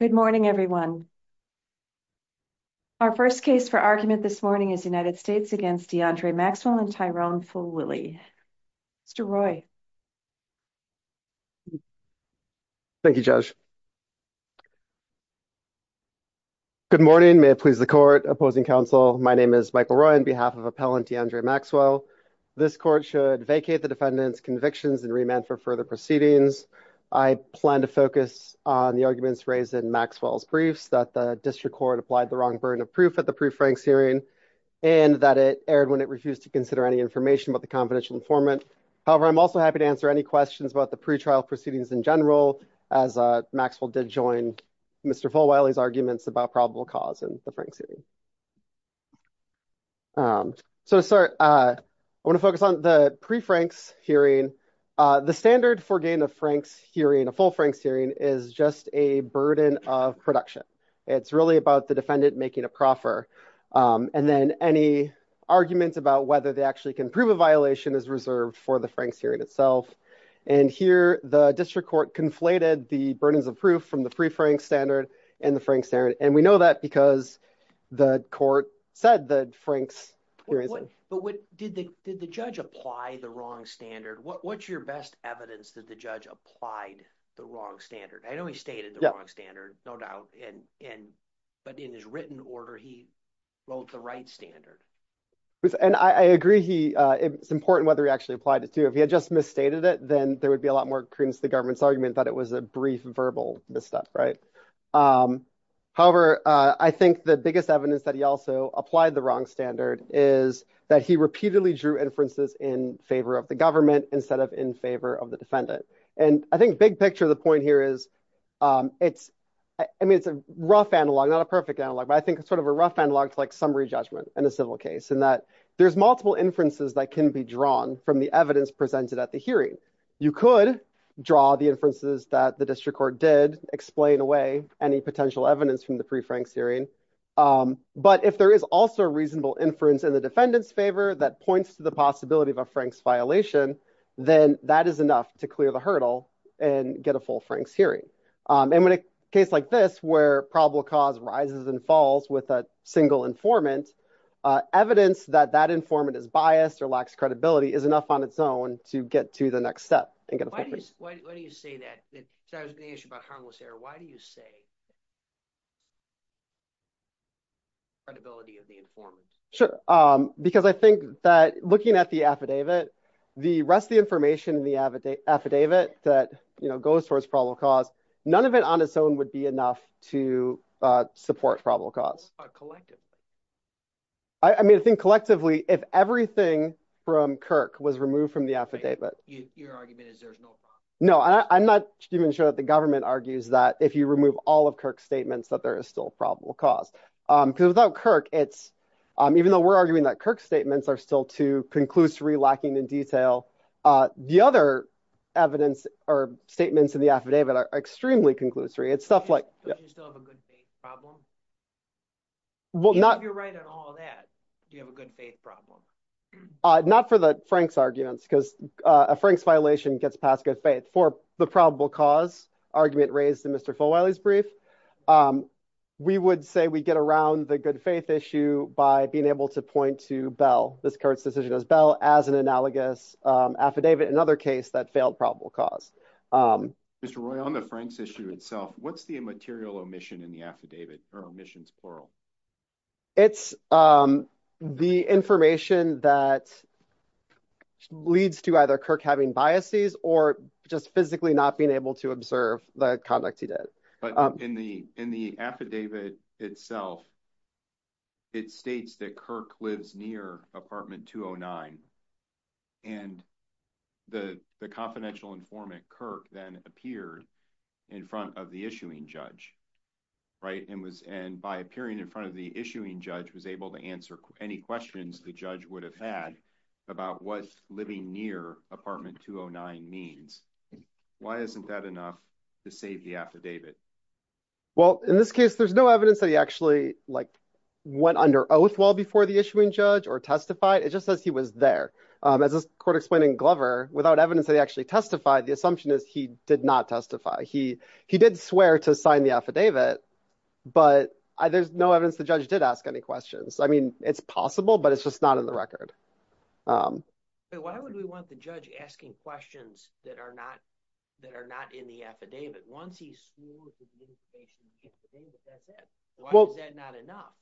Good morning, everyone. Our first case for argument this morning is United States v. Deandre Maxwell v. Tyrone Fulwilly. Mr. Roy. Thank you, Judge. Good morning. May it please the Court, Opposing Counsel. My name is Michael Roy on behalf of Appellant Deandre Maxwell. This Court should vacate the defendant's convictions and remand for further proceedings. I plan to focus on the arguments raised in Maxwell's briefs that the District Court applied the wrong burden of proof at the pre-Franks hearing and that it erred when it refused to consider any information about the confidential informant. However, I'm also happy to answer any questions about the pretrial proceedings in general as Maxwell did join Mr. Fulwilly's arguments about probable cause in the Franks hearing. So to start, I want to focus on the pre-Franks hearing. The standard for getting a Franks hearing, a full Franks hearing, is just a burden of production. It's really about the defendant making a proffer and then any argument about whether they actually can prove a violation is reserved for the Franks hearing itself. And here the District Court conflated the burdens of proof from the pre-Franks standard and the Franks standard, and we know that because the Court said the Franks hearing. But did the judge apply the wrong standard? What's your best evidence that the judge applied the wrong standard? I know he stated the wrong standard, no doubt, but in his written order he wrote the right standard. And I agree, it's important whether he actually applied it too. If he had just misstated it, then there would be a lot more argument that it was a brief verbal misstep, right? However, I think the biggest evidence that he also applied the wrong standard is that he repeatedly drew inferences in favor of the government instead of in favor of the defendant. And I think the big picture of the point here is it's, I mean, it's a rough analog, not a perfect analog, but I think it's sort of a rough analog to like summary judgment in a civil case in that there's multiple inferences that can be drawn from the evidence presented at the hearing. You could draw the inferences that the district court did, explain away any potential evidence from the pre-Franks hearing, but if there is also a reasonable inference in the defendant's favor that points to the possibility of a Franks violation, then that is enough to clear the hurdle and get a full Franks hearing. And in a case like this, where probable cause rises and falls with a single informant, evidence that that informant is biased or lacks credibility is enough on its own to get to the next step. Why do you say that? I was going to ask you about harmless error. Why do you say credibility of the informant? Sure. Because I think that looking at the affidavit, the rest of the information in the affidavit that, you know, goes towards probable cause, none of it on its own would be enough to support probable cause. But collectively? I mean, I think collectively, if everything from Kirk was removed from the affidavit. No, I'm not even sure that the government argues that if you remove all of Kirk's statements, that there is still probable cause. Because without Kirk, it's, even though we're arguing that Kirk's statements are still too conclusory, lacking in detail, the other evidence or statements in the affidavit are extremely conclusory. It's stuff like... If you're right on all that, do you have a good faith problem? Not for the Frank's arguments, because a Frank's violation gets past good faith. For the probable cause argument raised in Mr. Folwiley's brief, we would say we get around the good faith issue by being able to point to Bell, this Kirk's decision as Bell, as an analogous affidavit, another case that failed probable cause. Mr. Roy, on the Frank's issue itself, what's the material omission in the affidavit? It's the information that leads to either Kirk having biases or just physically not being able to observe the conduct he did. But in the affidavit itself, it states that Kirk lives near apartment 209. And the confidential informant, Kirk, then appeared in front of the issuing judge. And by appearing in front of the issuing judge was able to answer any questions the judge would have had about what living near apartment 209 means. Why isn't that enough to save the affidavit? Well, in this case, there's no evidence that he actually went under oath well before the issuing judge or testified. It just says he was there. As this court explained in Glover, without evidence that he actually testified, the assumption is he did not testify. He did swear to sign the affidavit, but there's no evidence the judge did ask any questions. I mean, it's possible, but it's just not in the record. Why would we want the judge asking questions that are not in the affidavit? Once he swore to give the information in the affidavit, that's it. Why is that not enough?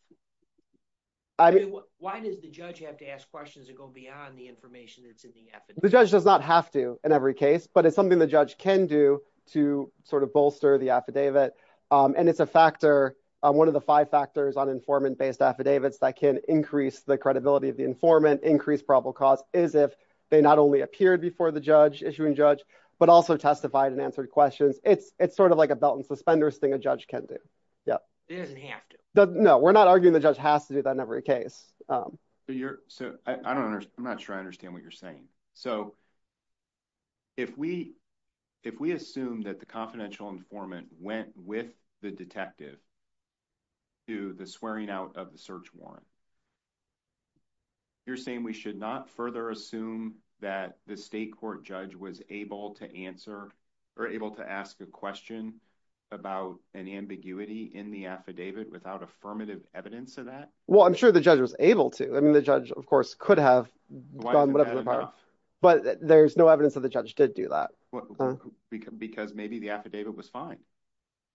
Why does the judge have to ask questions that go beyond the information that's in the affidavit? The judge does not have to in every case, but it's something the judge can do to sort of bolster the affidavit. And it's a factor. One of the five factors on informant based affidavits that can increase the credibility of the informant, increase probable cause is if they not only appeared before the judge issuing judge, but also testified and answered questions. It's sort of like a belt and suspenders thing a judge can do. Yeah, he doesn't have to. No, we're not arguing the judge has to do that in every case. So I'm not sure I understand what you're saying. So if we assume that the confidential informant went with the detective to the swearing out of the search warrant, you're saying we should not further assume that the state court judge was able to answer or able to ask a question about an ambiguity in the affidavit without affirmative evidence of that? Well, I'm sure the judge was able to. I mean, the judge, of course, could have but there's no evidence that the judge did do that. Because maybe the affidavit was fine.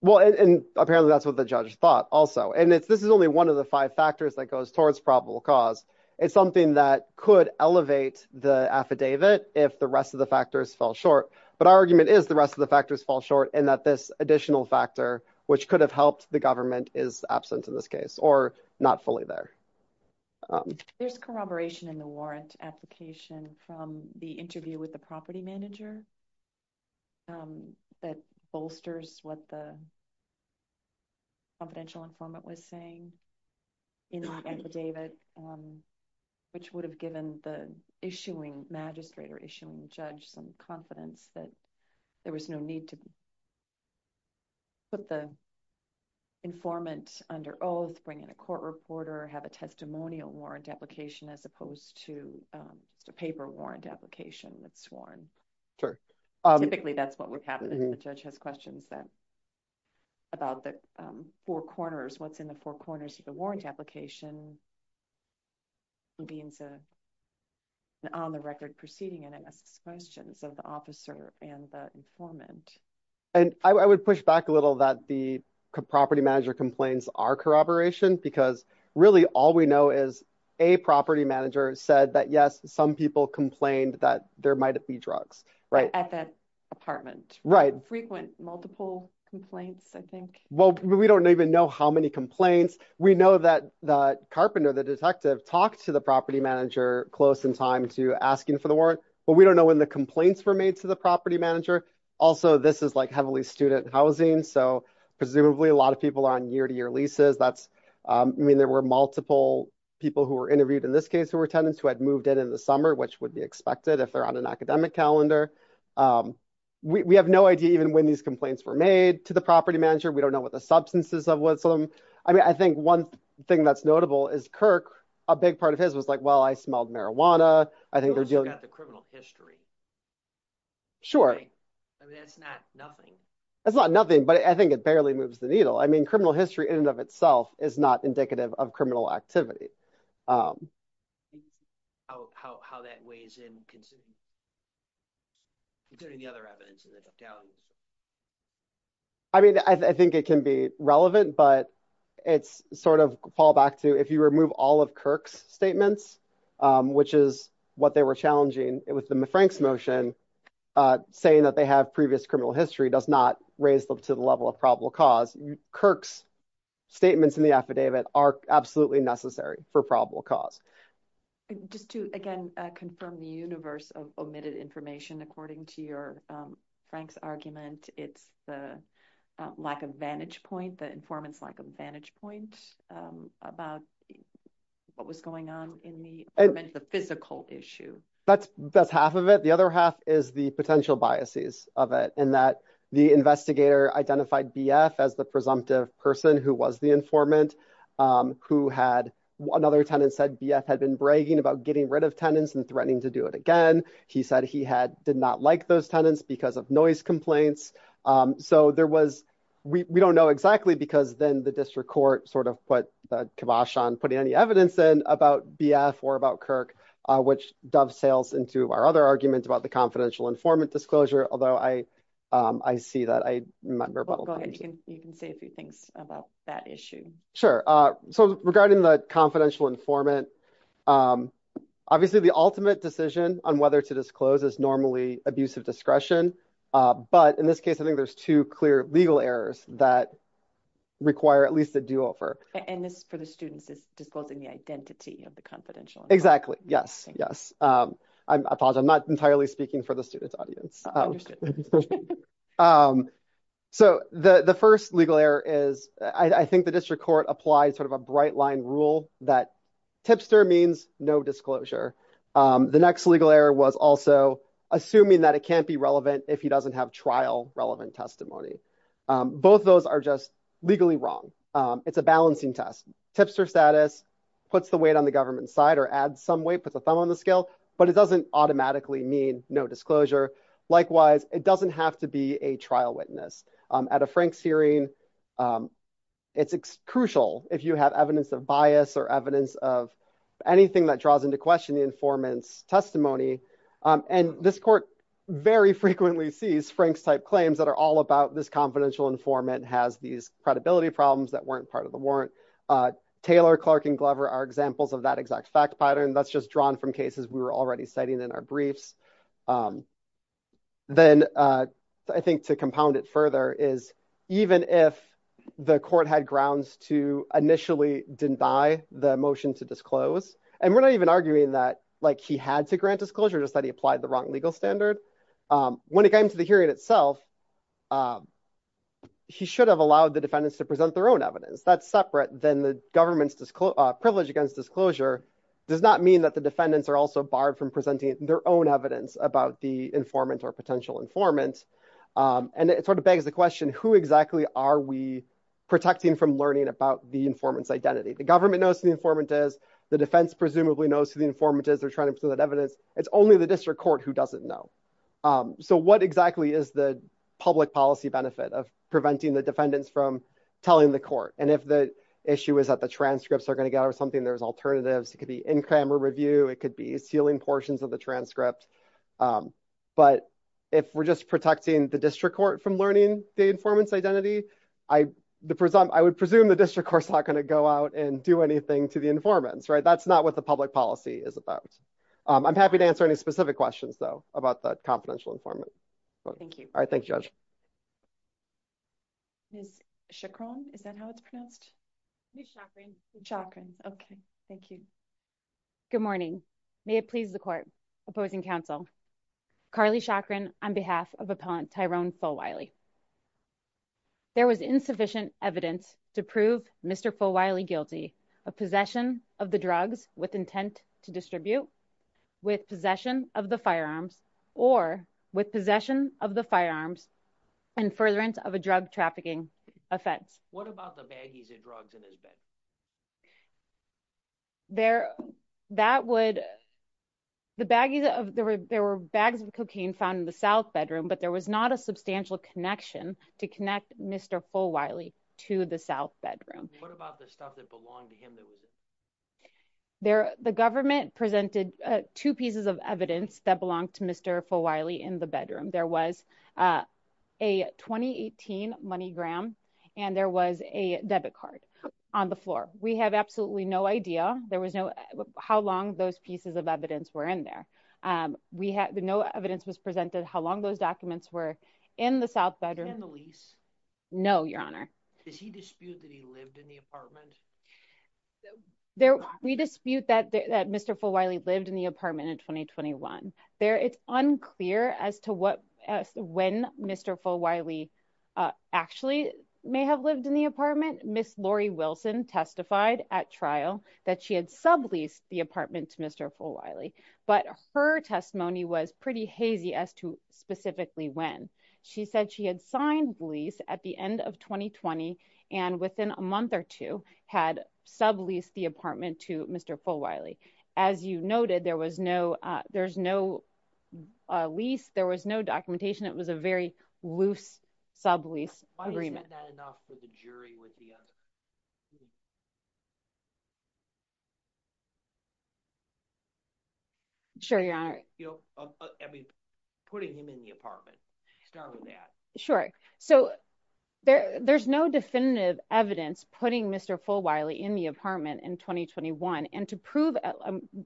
Well, and apparently that's what the judge thought also. And this is only one of the five factors that goes towards probable cause. It's something that could elevate the affidavit if the rest of the factors fell short. But our argument is the rest of the factors fall short and that this additional factor, which could have helped the government is absent in this case or not fully there. There's corroboration in the warrant application from the interview with the property manager that bolsters what the confidential informant was saying in the affidavit, which would have given the issuing magistrate or issuing judge some confidence that there was no need to put the informant under oath, bring in a court reporter, have a testimonial warrant application as opposed to just a paper warrant application that's sworn. Typically, that's what would happen if the judge has questions that about the four corners, what's in the four corners of the warrant application being on the record proceeding and it asks questions of the officer and the informant. And I would push back a little that the property manager complains are corroboration because really all we know is a property manager said that, yes, some people complained that there might be drugs at that apartment. Frequent multiple complaints, I think. Well, we don't even know how many complaints. We know that Carpenter, the detective, talked to the property manager close in time to asking for the warrant. But we don't know when the complaints were made to the property manager. Also, this is like heavily student housing. So presumably a lot of people are on year to year leases. I mean, there were multiple people who were interviewed in this case who were tenants who had moved in in the summer, which would be expected if they're on an academic calendar. We have no idea even when these complaints were made to the property manager. We don't know what the substances of what some. I mean, I think one thing that's notable is Kirk. A big part of his was like, well, I smelled marijuana. I think they're dealing with the criminal history. Sure. I mean, that's not nothing. That's not nothing. But I think it barely moves the needle. I mean, criminal history in and of itself is not indicative of criminal activity. How that weighs in, considering the other evidence. I mean, I think it can be relevant, but it's sort of fall back to if you remove all of Kirk's statements, which is what they were challenging with the Frank's motion, saying that they have previous criminal history does not raise them to the level of probable cause. Kirk's statements in the affidavit are absolutely necessary for probable cause. Just to, again, confirm the universe of omitted information, according to your Frank's argument, it's the lack of vantage point, the informant's lack of vantage point about what was going on in the physical issue. That's that's half of it. The other half is the potential biases of it and that the investigator identified B.F. as the presumptive person who was the informant, who had another tenant said B.F. had been bragging about getting rid of tenants and threatening to do it again. He said he had did not like those tenants because of noise complaints. So there was we don't know exactly because then the district court sort of put the kibosh on putting any evidence in about B.F. or about Kirk, which dove sails into our other argument about the confidential informant disclosure. Although I see that I remember. You can say a few things about that issue. Sure. So regarding the confidential informant, obviously the ultimate decision on whether to disclose is normally abusive discretion. But in this case, I think there's two clear legal errors that require at least a do over. And this for the students is disclosing the identity of the confidential. Exactly. Yes. Yes. I apologize. I'm sorry. So the first legal error is I think the district court applies sort of a bright line rule that tipster means no disclosure. The next legal error was also assuming that it can't be relevant if he doesn't have trial relevant testimony. Both those are just legally wrong. It's a balancing test. Tipster status puts the weight on the government side or add some weight with a thumb on the scale. But it doesn't automatically mean no disclosure. Likewise, it doesn't have to be a trial witness at a Frank's hearing. It's crucial if you have evidence of bias or evidence of anything that draws into question the informant's testimony. And this court very frequently sees Frank's type claims that are all about this confidential informant has these credibility problems that weren't part of the warrant. Taylor, Clark and Glover are examples of that exact fact pattern that's just drawn from cases we were already citing in our briefs. Then I think to compound it further is even if the court had grounds to initially deny the motion to disclose and we're not even arguing that like he had to grant disclosure just that he applied the wrong legal standard when it came to the hearing itself. He should have allowed the defendants to present their own evidence that's separate than the government's privilege against disclosure does not mean that the defendants are also barred from presenting their own evidence about the informant or potential informant. And it sort of begs the question, who exactly are we protecting from learning about the informant's identity? The government knows who the informant is. The defense presumably knows who the informant is. They're trying to present that evidence. It's only the district court who doesn't know. So what exactly is the public policy benefit of preventing the defendants from telling the court? And if the issue is that the transcripts are going to get over something, there's alternatives. It could be sealing portions of the transcript. But if we're just protecting the district court from learning the informant's identity, I would presume the district court's not going to go out and do anything to the informants, right? That's not what the public policy is about. I'm happy to answer any specific questions, though, about the confidential informant. Thank you. All right. Chakran. Is that how it's pronounced? Chakran. Okay. Thank you. Good morning. May it please the court. Opposing counsel. Carly Chakran on behalf of appellant Tyrone Fulwiley. There was insufficient evidence to prove Mr. Fulwiley guilty of possession of the drugs with intent to distribute, with possession of the firearms, or with possession of the firearms and furtherance of a drug trafficking offense. What about the baggies of drugs in his bed? There, that would, the baggies of, there were bags of cocaine found in the south bedroom, but there was not a substantial connection to connect Mr. Fulwiley to the south bedroom. What about the stuff that belonged to him that was in there? The government presented two pieces of evidence that belonged to Mr. Fulwiley in the bedroom. There was a 2018 money gram, and there was a debit card on the floor. We have absolutely no idea. There was no, how long those pieces of evidence were in there. We had no evidence was presented how long those documents were in the south bedroom. And the lease? No, your honor. Does he dispute that he in the apartment? We dispute that Mr. Fulwiley lived in the apartment in 2021. There, it's unclear as to what, when Mr. Fulwiley actually may have lived in the apartment. Ms. Lori Wilson testified at trial that she had subleased the apartment to Mr. Fulwiley, but her testimony was pretty hazy as to specifically when. She said she had signed lease at the end of 2020 and within a month or two had subleased the apartment to Mr. Fulwiley. As you noted, there was no, there's no lease. There was no documentation. It was a very loose sublease agreement. Why isn't that enough for the jury with the other? Sure, your honor. You know, I mean, putting him in the apartment, start with that. Sure. So there, there's no definitive evidence putting Mr. Fulwiley in the apartment in 2021. And to prove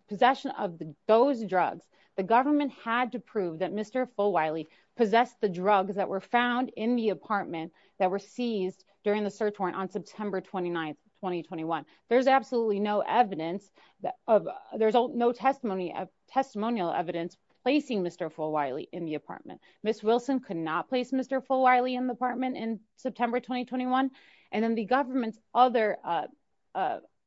possession of those drugs, the government had to prove that Mr. Fulwiley possessed the drugs that were found in the apartment that were seized during the search warrant on September 29th, 2021. There's absolutely no evidence of there's no testimony of testimonial evidence placing Mr. Fulwiley in the apartment. Ms. Wilson could not place Mr. Fulwiley in the apartment in September, 2021. And then the government's other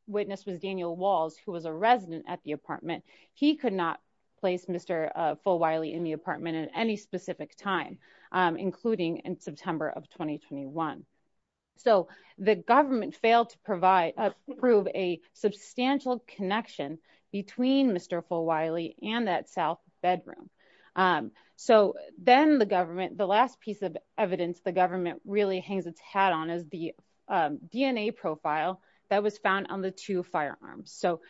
witness was Daniel Walls, who was a resident at the apartment. He could not place Mr. Fulwiley in the apartment at any specific time, including in September of 2021. So the government failed to provide, prove a substantial connection between Mr. Fulwiley and that South bedroom. So then the government, the last piece of evidence the government really hangs its hat on is the DNA profile that was found on the two firearms. So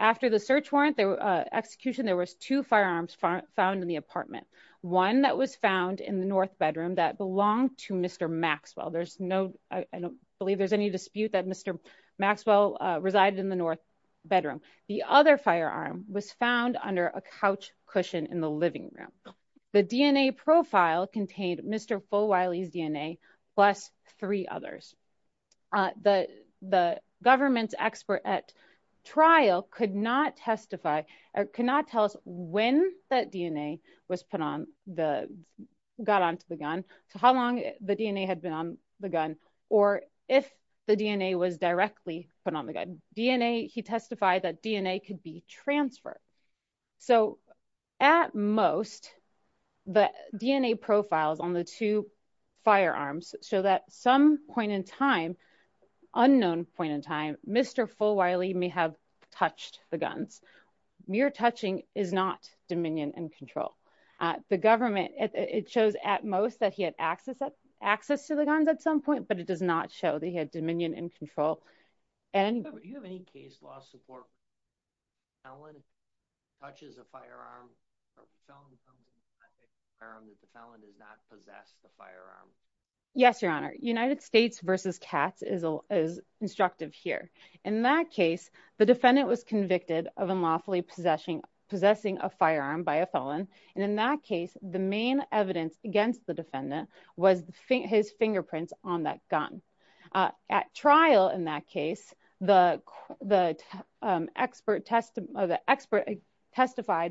after the search warrant, the execution, there was two firearms found in the apartment. One that was found in the North bedroom that belonged to Mr. Maxwell. There's no, I don't believe there's any dispute that Mr. Maxwell resided in the North bedroom. The other firearm was found under a couch cushion in the living room. The DNA profile contained Mr. Fulwiley's DNA plus three others. The government's expert at trial could not testify or could not tell us when that DNA was put on the, got onto the gun to how long the DNA had been on the gun or if the DNA was directly put on the gun. DNA, he testified that DNA could be transferred. So at most the DNA profiles on the two firearms show that some point in time, unknown point in time, Mr. Fulwiley may have touched the guns. Mere touching is not dominion and control. The government, it shows at most that he had access to the guns at some point, but it does not show that he had dominion and control. Do you have any case law support when a felon touches a firearm that the felon does not possess the firearm? Yes, your honor. United States versus Katz is instructive here. In that case, the defendant was convicted of unlawfully possessing a firearm by a felon. And in that case, the main evidence against the defendant was his fingerprints on that gun. At trial in that case, the expert testified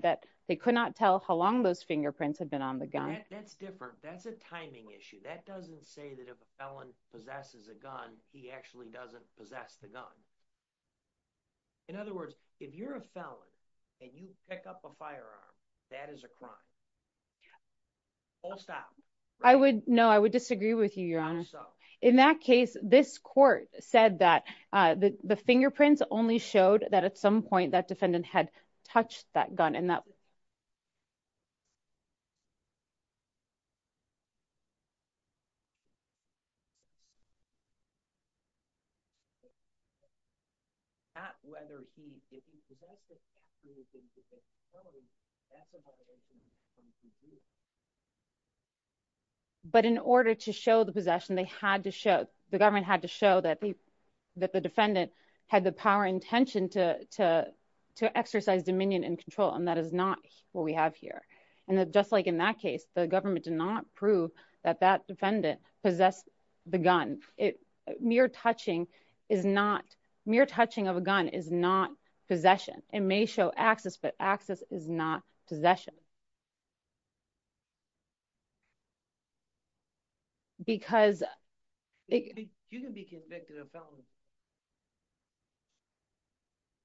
that they could not tell how long those fingerprints had been on the gun. That's different. That's a timing issue. That doesn't say that if a felon possesses a gun, he actually doesn't possess the gun. In other words, if you're a felon and you pick up a firearm, that is a crime. I would know. I would disagree with you, your honor. In that case, this court said that the fingerprints only showed that at some point that defendant had touched that gun and that but in order to show the possession, the government had to show that the defendant had the power and intention to exercise dominion and control. And that is not what we have here. And just like in that case, the government did not prove that that defendant possessed the gun. Mere touching of a gun is not possession. It may show access, but access is not possession.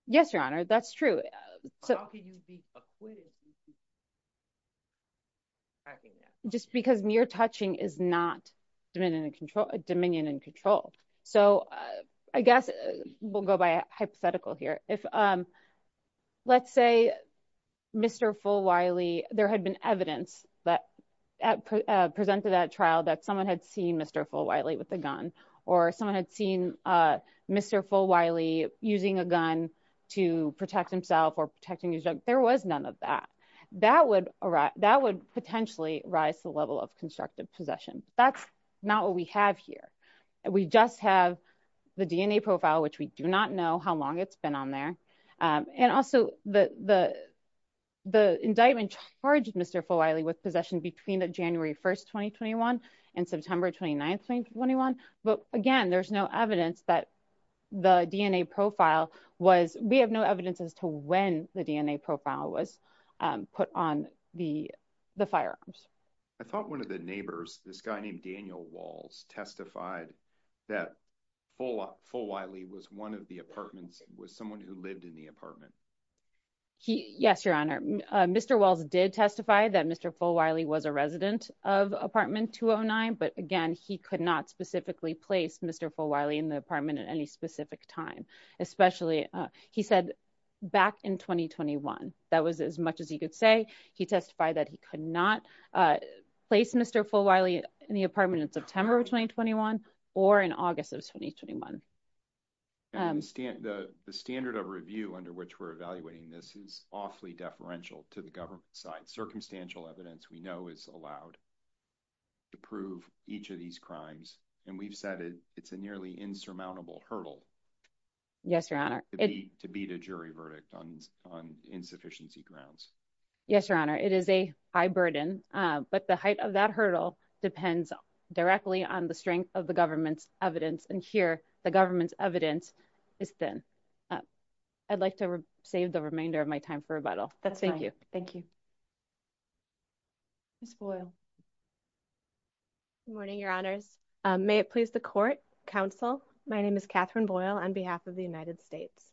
Yes, your honor. That's true. Just because mere touching is not dominion and control. So, I guess we'll go by a hypothetical here. If, let's say, Mr. Fulwiley was a felon, and he had a gun in his hand, and he had a gun in his There had been evidence that presented at trial that someone had seen Mr. Fulwiley with a gun, or someone had seen Mr. Fulwiley using a gun to protect himself or protecting his drug. There was none of that. That would potentially rise the level of constructive possession. That's not what we have here. We just have the DNA profile, which we do not know how long it's on there. And also, the indictment charged Mr. Fulwiley with possession between the January 1, 2021 and September 29, 2021. But again, there's no evidence that the DNA profile was, we have no evidence as to when the DNA profile was put on the firearms. I thought one of the neighbors, this guy named Daniel Walls, testified that Fulwiley was one of the apartments, was someone who lived in the apartment. Yes, your honor. Mr. Walls did testify that Mr. Fulwiley was a resident of apartment 209, but again, he could not specifically place Mr. Fulwiley in the apartment at any specific time. Especially, he said, back in 2021. That was as much as he could say. He testified that he could not place Mr. Fulwiley in the apartment in September of 2021 or in August of 2021. The standard of review under which we're evaluating this is awfully deferential to the government side. Circumstantial evidence we know is allowed to prove each of these crimes. And we've said it's a nearly insurmountable hurdle. Yes, your honor. To beat a jury verdict on insufficiency grounds. Yes, your honor. It is a high burden, but the height of that hurdle depends directly on the strength of the government's evidence. And here, the government's evidence is thin. I'd like to save the remainder of my time for rebuttal. That's fine. Thank you. Ms. Boyle. Good morning, your honors. May it please the court, counsel. My name is Catherine Boyle on behalf of the United States.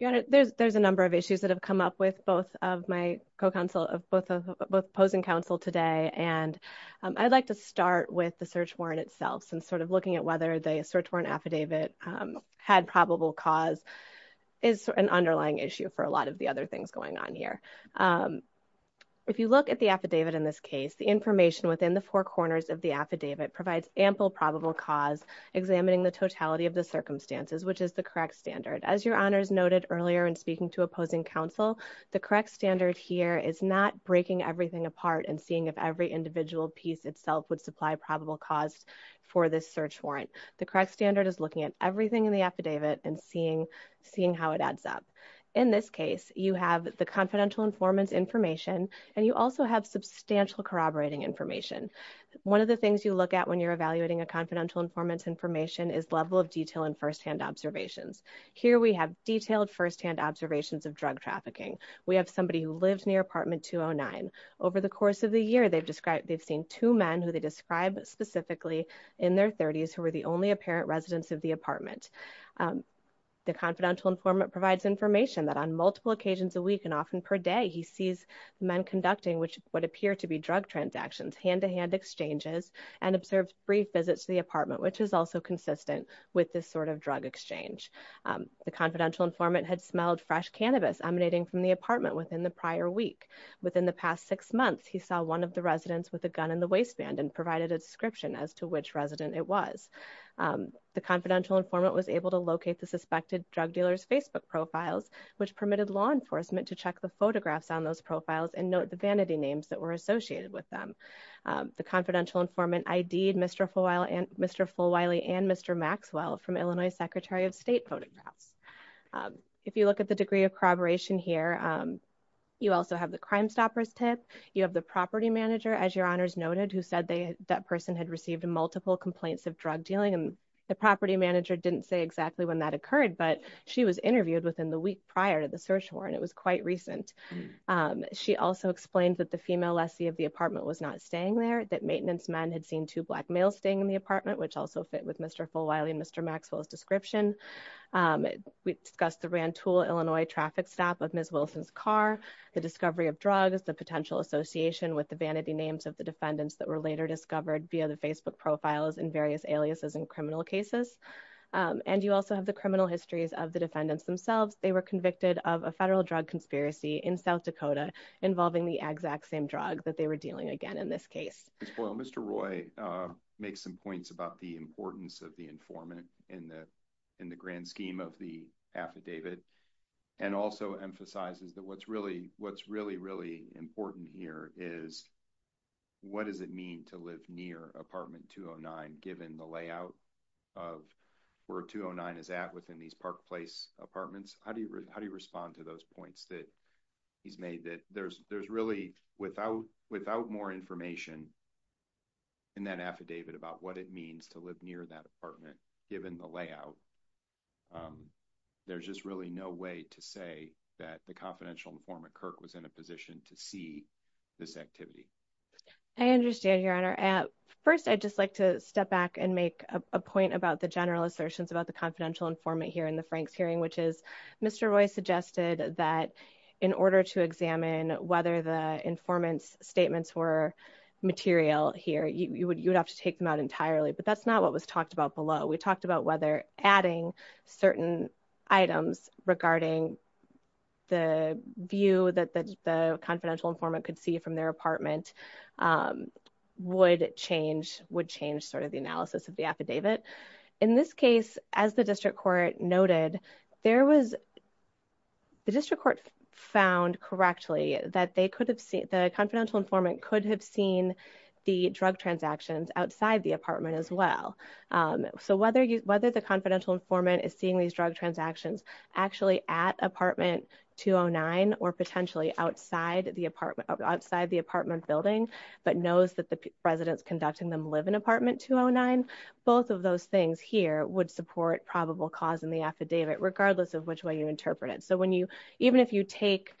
Your honor, there's a number of issues that have come up with both of my co-counsel, of both opposing counsel today. And I'd like to start with the search warrant itself. Since sort of looking at whether the search warrant affidavit had probable cause is an underlying issue for a lot of the other things going on here. If you look at the affidavit in this case, the information within the four corners of the affidavit provides ample probable cause examining the totality of the circumstances, which is the correct standard. As your honors noted earlier in speaking to opposing counsel, the correct standard here is not breaking everything apart and seeing if every individual piece itself would supply probable cause for this search warrant. The correct standard is looking at everything in the affidavit and seeing, seeing how it adds up. In this case, you have the confidential informants information, and you also have substantial corroborating information. One of the things you look at when you're evaluating a confidential informants information is level of detail and first-hand observations. Here we have detailed first-hand observations of drug trafficking. We have somebody who lived near apartment 209. Over the course of the year, they've described, they've seen two men who they described specifically in their 30s who were the only apparent residents of the apartment. The confidential informant provides information that on multiple occasions a week and often per day, he sees men conducting which would appear to be drug transactions, hand-to-hand exchanges, and observed brief visits to the apartment, which is also consistent with this sort of drug exchange. The confidential informant had smelled fresh cannabis emanating from the apartment within the prior week. Within the past six months, he saw one of the residents with a gun in the waistband and provided a description as to which resident it was. The confidential informant was able to locate the suspected drug dealer's Facebook profiles, which permitted law enforcement to check the photographs on those profiles and note the vanity names that were associated with them. The confidential informant ID'd Mr. Fulwiley and Mr. Maxwell from Illinois Secretary of State photographs. If you look at the degree of corroboration here, you also have the Crimestoppers tip. You have the property manager, as your honors noted, who said that person had received multiple complaints of drug dealing and the property manager didn't say exactly when that occurred, but she was interviewed within the week prior to the search warrant. It was quite recent. She also explained that the female lessee of the apartment was not staying there, that maintenance men had seen two black males staying in the apartment, which also fit with Mr. Fulwiley and Mr. Maxwell's description. We discussed the Rantoul, Illinois traffic stop of Ms. Wilson's car, the discovery of drugs, the potential association with the vanity names of the defendants that were later discovered via the Facebook profiles in various aliases in criminal cases, and you also have the criminal histories of the defendants themselves. They were convicted of a federal drug conspiracy in South Dakota involving the exact same drug that they were dealing again in this case. Mr. Roy makes some points about the importance of the informant in the grand scheme of the affidavit and also emphasizes that what's really important here is what does it mean to live near apartment 209 given the layout of where 209 is at within these park place apartments? How do you respond to those points that he's made that there's really without more information in that affidavit about what it means to live near that apartment given the layout, there's just really no way to say that the confidential informant Kirk was in position to see this activity. I understand your honor. First, I'd just like to step back and make a point about the general assertions about the confidential informant here in the Franks hearing which is Mr. Roy suggested that in order to examine whether the informant's statements were material here, you would have to take them out entirely, but that's not what was talked about We talked about whether adding certain items regarding the view that the confidential informant could see from their apartment would change sort of the analysis of the affidavit. In this case, as the district court noted, the district court found correctly that the confidential informant could have seen the drug transactions outside the apartment as well. So whether the confidential informant is seeing these drug transactions actually at apartment 209 or potentially outside the apartment outside the apartment building but knows that the residence conducting them live in apartment 209, both of those things here would support probable cause in the affidavit regardless of which way you interpret it. So even if you take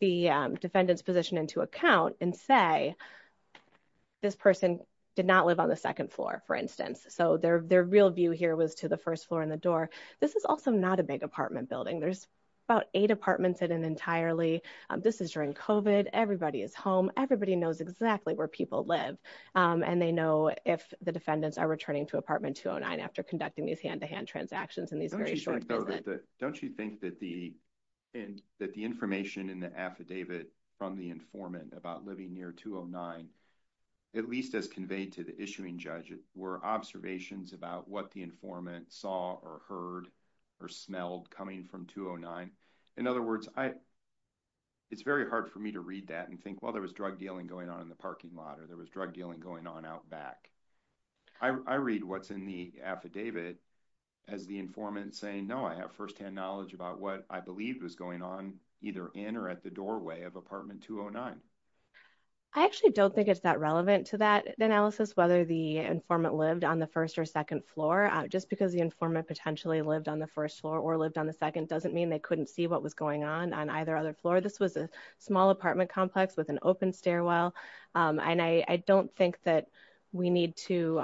the defendant's position into account and say this person did not live on the second floor, for instance, so their real view here was to the first floor in the door, this is also not a big apartment building. There's about eight apartments in an entirely. This is during COVID. Everybody is home. Everybody knows exactly where people live and they know if the defendants are returning to apartment 209 after conducting these hand-to-hand transactions in these very short periods. Don't you think that the information in the affidavit from the informant about living near 209, at least as conveyed to the issuing judge, were observations about what the informant saw or heard or smelled coming from 209? In other words, it's very hard for me to read that and think, well, there was drug dealing going on in the parking lot or there was drug dealing going on out back. I read what's in the affidavit as the informant saying, no, I have firsthand knowledge about what I believe was going on either in or at the doorway of apartment 209. I actually don't think it's that relevant to that analysis, whether the informant lived on the first or second floor. Just because the informant potentially lived on the first floor or lived on the second doesn't mean they couldn't see what was going on on either other floor. This was a small apartment complex with an open stairwell and I don't think that we need to,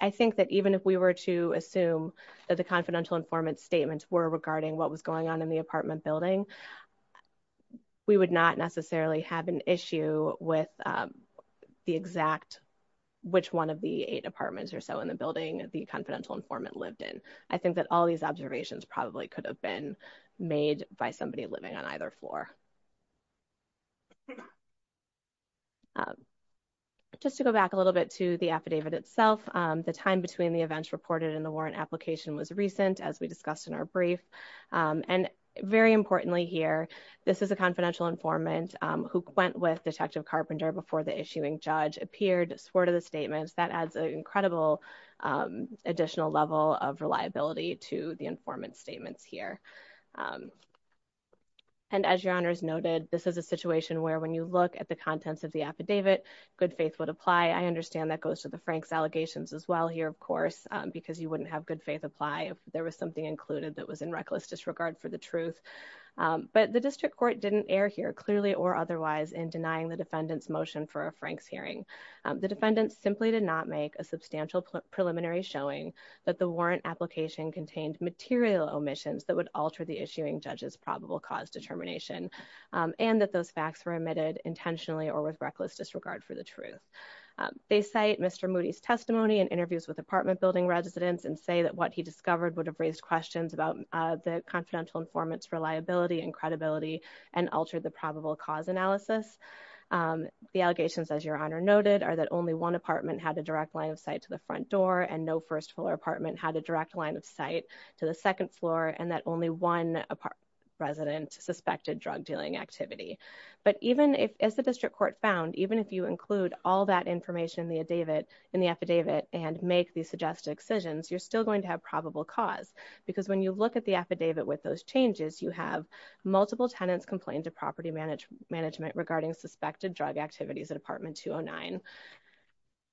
I think that even if we were to assume that the confidential informant statements were regarding what was going on in the apartment building, we would not necessarily have an issue with the exact, which one of the eight apartments or so in the building the confidential informant lived in. I think that all these observations probably could have been made by somebody living on either floor. Just to go back a little bit to the affidavit itself, the time between the events reported in the warrant application was recent as we discussed in our brief. Very importantly here, this is a confidential informant who went with Detective Carpenter before the issuing judge appeared, swore to the statements. That adds an incredible additional level of reliability to the informant statements here. As your honors noted, this is a situation where when you look at the contents of the affidavit, good faith would apply. I understand that goes to the Frank's as well here, of course, because you wouldn't have good faith apply if there was something included that was in reckless disregard for the truth. But the district court didn't err here, clearly or otherwise, in denying the defendant's motion for a Frank's hearing. The defendant simply did not make a substantial preliminary showing that the warrant application contained material omissions that would alter the issuing judge's probable cause determination and that those facts were admitted intentionally or with reckless disregard for the truth. They cite Mr. Moody's testimony and interviews with apartment building residents and say that what he discovered would have raised questions about the confidential informant's reliability and credibility and altered the probable cause analysis. The allegations, as your honor noted, are that only one apartment had a direct line of sight to the front door and no first floor apartment had a direct line of sight to the second floor and that only one apartment resident suspected drug dealing activity. But even if, as the district court found, even if you include all that information in the affidavit and make the suggested excisions, you're still going to have probable cause because when you look at the affidavit with those changes, you have multiple tenants complained to property management regarding suspected drug activities at apartment 209.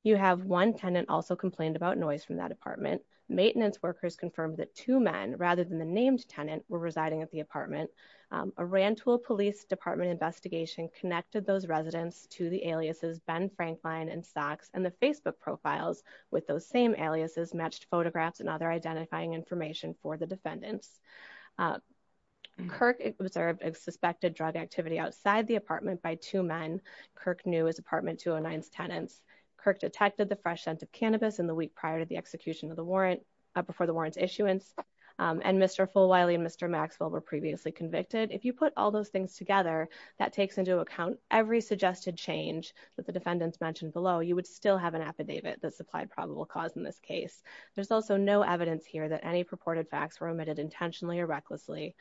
You have one tenant also complained about noise from that apartment. Maintenance workers confirmed that two men, rather than the named tenant, were residing at the apartment. A Rantoul Police Department investigation connected those residents to the aliases Ben Franklin and Sox and the Facebook profiles with those same aliases matched photographs and other identifying information for the defendants. Kirk observed a suspected drug activity outside the apartment by two men. Kirk knew his apartment 209's tenants. Kirk detected the fresh scent of cannabis in the week prior to the execution of the warrant, before the warrant's issuance, and Mr. Fulwiley and Mr. Maxwell were previously convicted. If you put all those things together, that takes into account every suggested change that the defendants mentioned below, you would still have an affidavit that supplied probable cause in this case. There's also no evidence here that any purported facts were omitted intentionally or recklessly,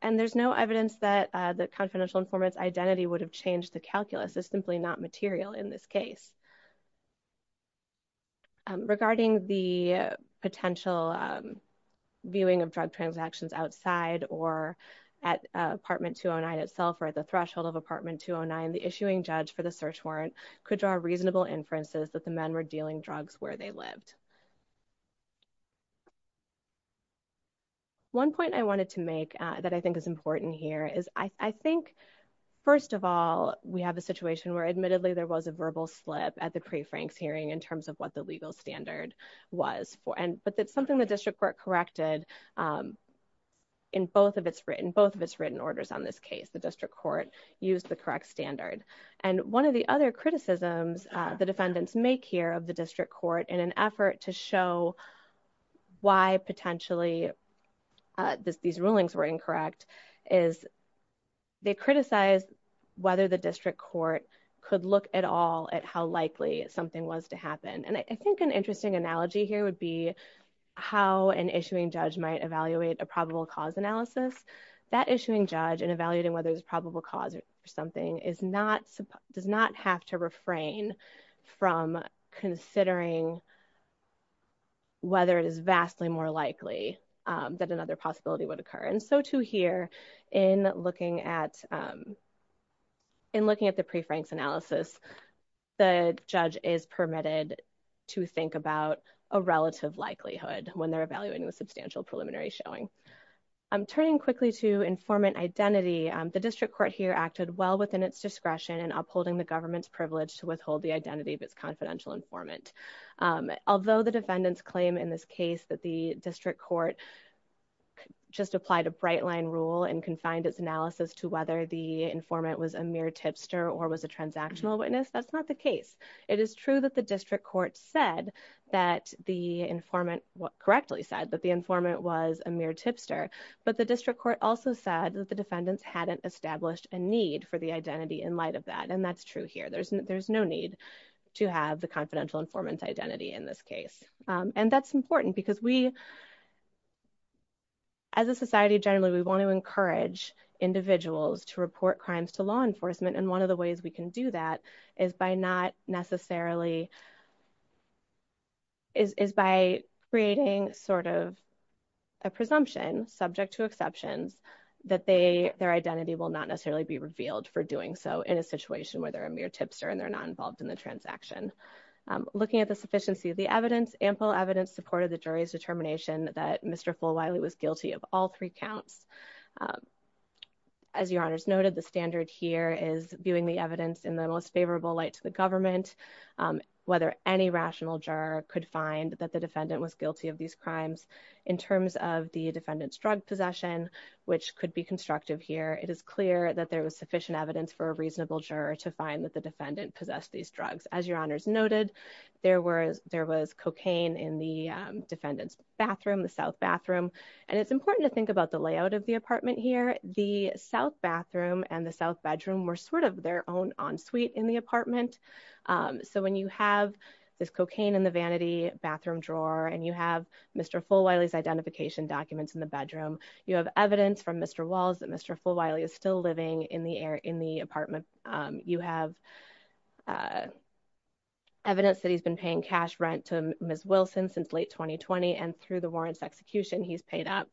and there's no evidence that the confidential informant's identity would have changed the calculus. It's simply not material in this case. Regarding the potential viewing of drug transactions outside or at apartment 209 itself, or at the threshold of apartment 209, the issuing judge for the search warrant could draw reasonable inferences that the men were dealing drugs where they lived. One point I wanted to make that I think is important here is, I think, first of all, we have a situation where, admittedly, there was a verbal slip at the pre-Frank's hearing in terms of what the legal standard was, but that's something the district court corrected in both of its written orders on this case. The district court used the correct standard. And one of the other criticisms the defendants make here of the district court in an effort to show why, potentially, these rulings were incorrect, is they criticized whether the district court could look at all at how likely something was to happen. And I think an interesting analogy here would be how an issuing judge might evaluate a probable cause analysis. That issuing judge, in evaluating whether there's probable cause or something, does not have to refrain from considering whether it is vastly more likely that another possibility would occur. And so, too, here, in looking at the pre-Frank's analysis, the judge is permitted to think about a relative likelihood when they're evaluating the substantial preliminary showing. Turning quickly to informant identity, the district court here acted well within its discretion in upholding the government's privilege to withhold the identity of its confidential informant. Although the defendants claim in this case that the district court just applied a bright line rule and confined its analysis to whether the informant was a mere tipster or was a transactional witness, that's not the case. It is true that the district court said that the informant, correctly said that the informant was a mere tipster, but the district court also said that the defendants hadn't established a need for the identity in light of that, and that's true here. There's no need to have the confidential informant's identity in this case. And that's important because we, as a society generally, we want to encourage individuals to report crimes to law enforcement, and one of the ways we can do that is by not necessarily, is by creating sort of a presumption, subject to exceptions, that they, their identity will not necessarily be revealed for doing so in a situation where they're a mere tipster and they're not involved in the transaction. Looking at the sufficiency of the evidence, ample evidence supported the jury's determination that Mr. Fulwiley was guilty of all three counts. As your honors noted, the standard here is viewing the evidence in the most favorable light to the government, whether any rational juror could find that the defendant was guilty of these crimes. In terms of the defendant's drug possession, which could be constructive here, it is clear that there was sufficient evidence for a reasonable juror to find that the defendant possessed these drugs. As your honors noted, there was, there was cocaine in the defendant's bathroom, the south bathroom, and it's important to think about the layout of the apartment here. The south bathroom and the south bedroom were sort of their own suite in the apartment, so when you have this cocaine in the vanity bathroom drawer and you have Mr. Fulwiley's identification documents in the bedroom, you have evidence from Mr. Walls that Mr. Fulwiley is still living in the air, in the apartment. You have evidence that he's been paying cash rent to Ms. Wilson since late 2020, and through the warrants execution, he's paid up.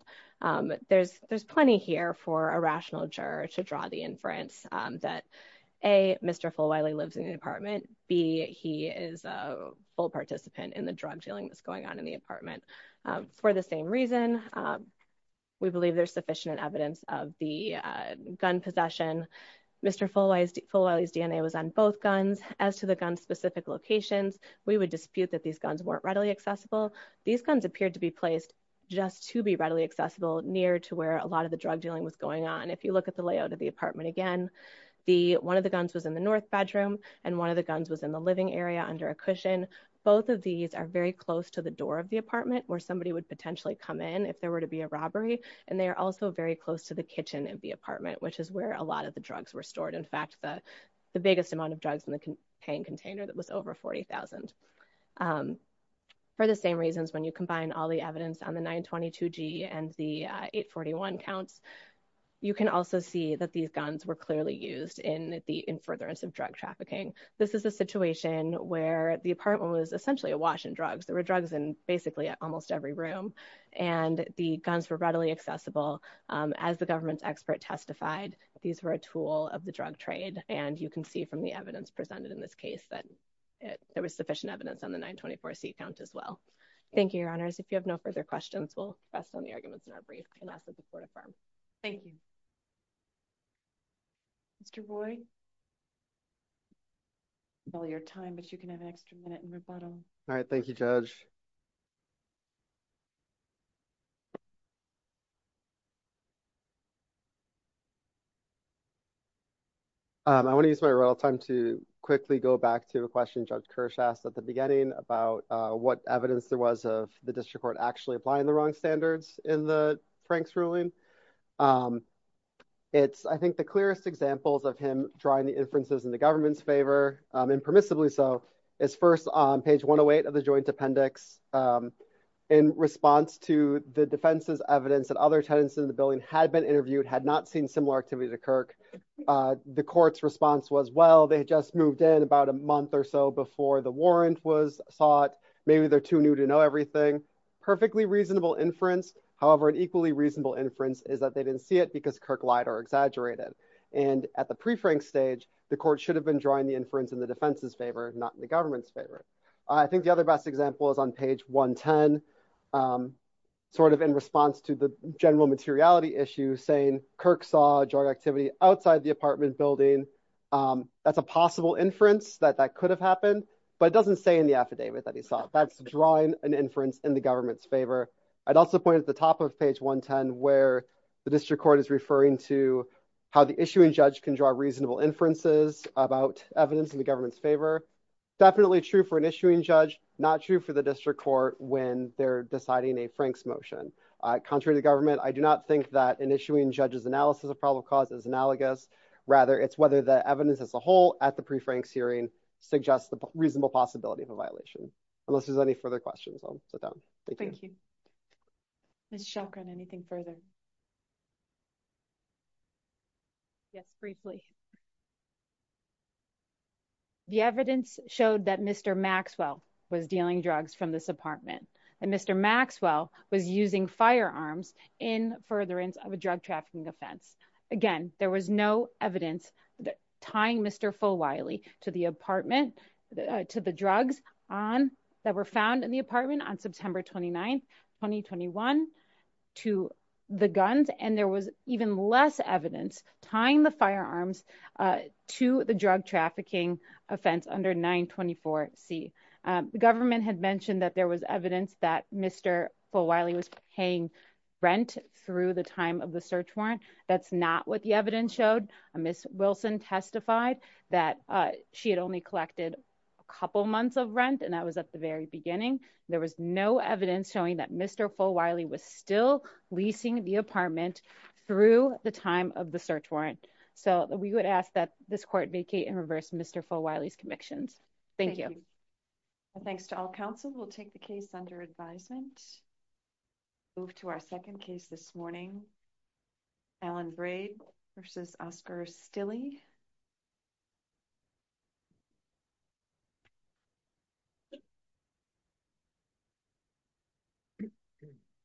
There's, there's plenty here for a rational juror to draw the inference that, A, Mr. Fulwiley lives in the apartment, B, he is a full participant in the drug dealing that's going on in the apartment. For the same reason, we believe there's sufficient evidence of the gun possession. Mr. Fulwiley's DNA was on both guns. As to the gun's specific locations, we would dispute that these guns weren't readily accessible. These guns appeared to be placed just to be readily accessible near to where a lot of the drug dealing was going on. If you look at the layout of the apartment again, one of the guns was in the north bedroom and one of the guns was in the living area under a cushion. Both of these are very close to the door of the apartment where somebody would potentially come in if there were to be a robbery, and they are also very close to the kitchen of the apartment, which is where a lot of the drugs were stored. In fact, the biggest amount of drugs in the paint container that was over 40,000. For the same reasons, when you combine all the evidence on the 922G and the 841 counts, you can also see that these guns were clearly used in the in furtherance of drug trafficking. This is a situation where the apartment was essentially awash in drugs. There were drugs in basically almost every room, and the guns were readily accessible. As the government's expert testified, these were a tool of the drug trade, and you can see from the evidence presented in this case that there was sufficient evidence on the 924C count as well. Thank you, Your Honors. If you have no further questions, we'll rest on the arguments in our brief and ask that the Court affirm. Thank you. Mr. Boyd? Well, your time, but you can have an extra minute and rebuttal. All right. Thank you, Judge. I want to use my rebuttal time to quickly go back to a question Judge Kirsch asked at the beginning about what evidence there was of the District Court actually applying the wrong standards in the Franks ruling. It's, I think, the clearest examples of him drawing the inferences in the appendix in response to the defense's evidence that other tenants in the building had been interviewed, had not seen similar activity to Kirk. The Court's response was, well, they just moved in about a month or so before the warrant was sought. Maybe they're too new to know everything. Perfectly reasonable inference. However, an equally reasonable inference is that they didn't see it because Kirk lied or exaggerated. And at the pre-Frank stage, the Court should have been drawing the inference in the defense's favor, not in the government's favor. I think the other best example is on page 110, sort of in response to the general materiality issue, saying Kirk saw a jarred activity outside the apartment building. That's a possible inference that that could have happened, but it doesn't say in the affidavit that he saw. That's drawing an inference in the government's favor. I'd also point at the top of page 110, where the District Court is referring to how the issuing judge can draw reasonable inferences about evidence in the government's favor. Definitely true for an issuing judge, not true for the District Court when they're deciding a Frank's motion. Contrary to government, I do not think that an issuing judge's analysis of probable cause is analogous. Rather, it's whether the evidence as a whole at the pre-Frank's hearing suggests the reasonable possibility of a violation. Unless there's any further questions, I'll sit down. Thank you. Ms. Shelgren, anything further? Yes, briefly. The evidence showed that Mr. Maxwell was dealing drugs from this apartment, and Mr. Maxwell was using firearms in furtherance of a drug trafficking offense. Again, there was no evidence tying Mr. Fulwile to the drugs that were found in the apartment on September 29, 2021, to the guns, and there was even less evidence tying the firearms to the drug trafficking offense under 924C. The government had mentioned that there was evidence that Mr. Fulwile was paying rent through the time of the search warrant. That's not what the evidence showed. Ms. Wilson testified that she had only collected a couple months of rent, and that was at the very beginning. There was no evidence showing that Mr. Fulwile was still leasing the apartment through the time of the search warrant. So, we would ask that this court vacate and reverse Mr. Fulwile's convictions. Thank you. Thanks to all counsel. We'll take the case under advisement. Move to our second case this morning. Alan Braid v. Oscar Stille.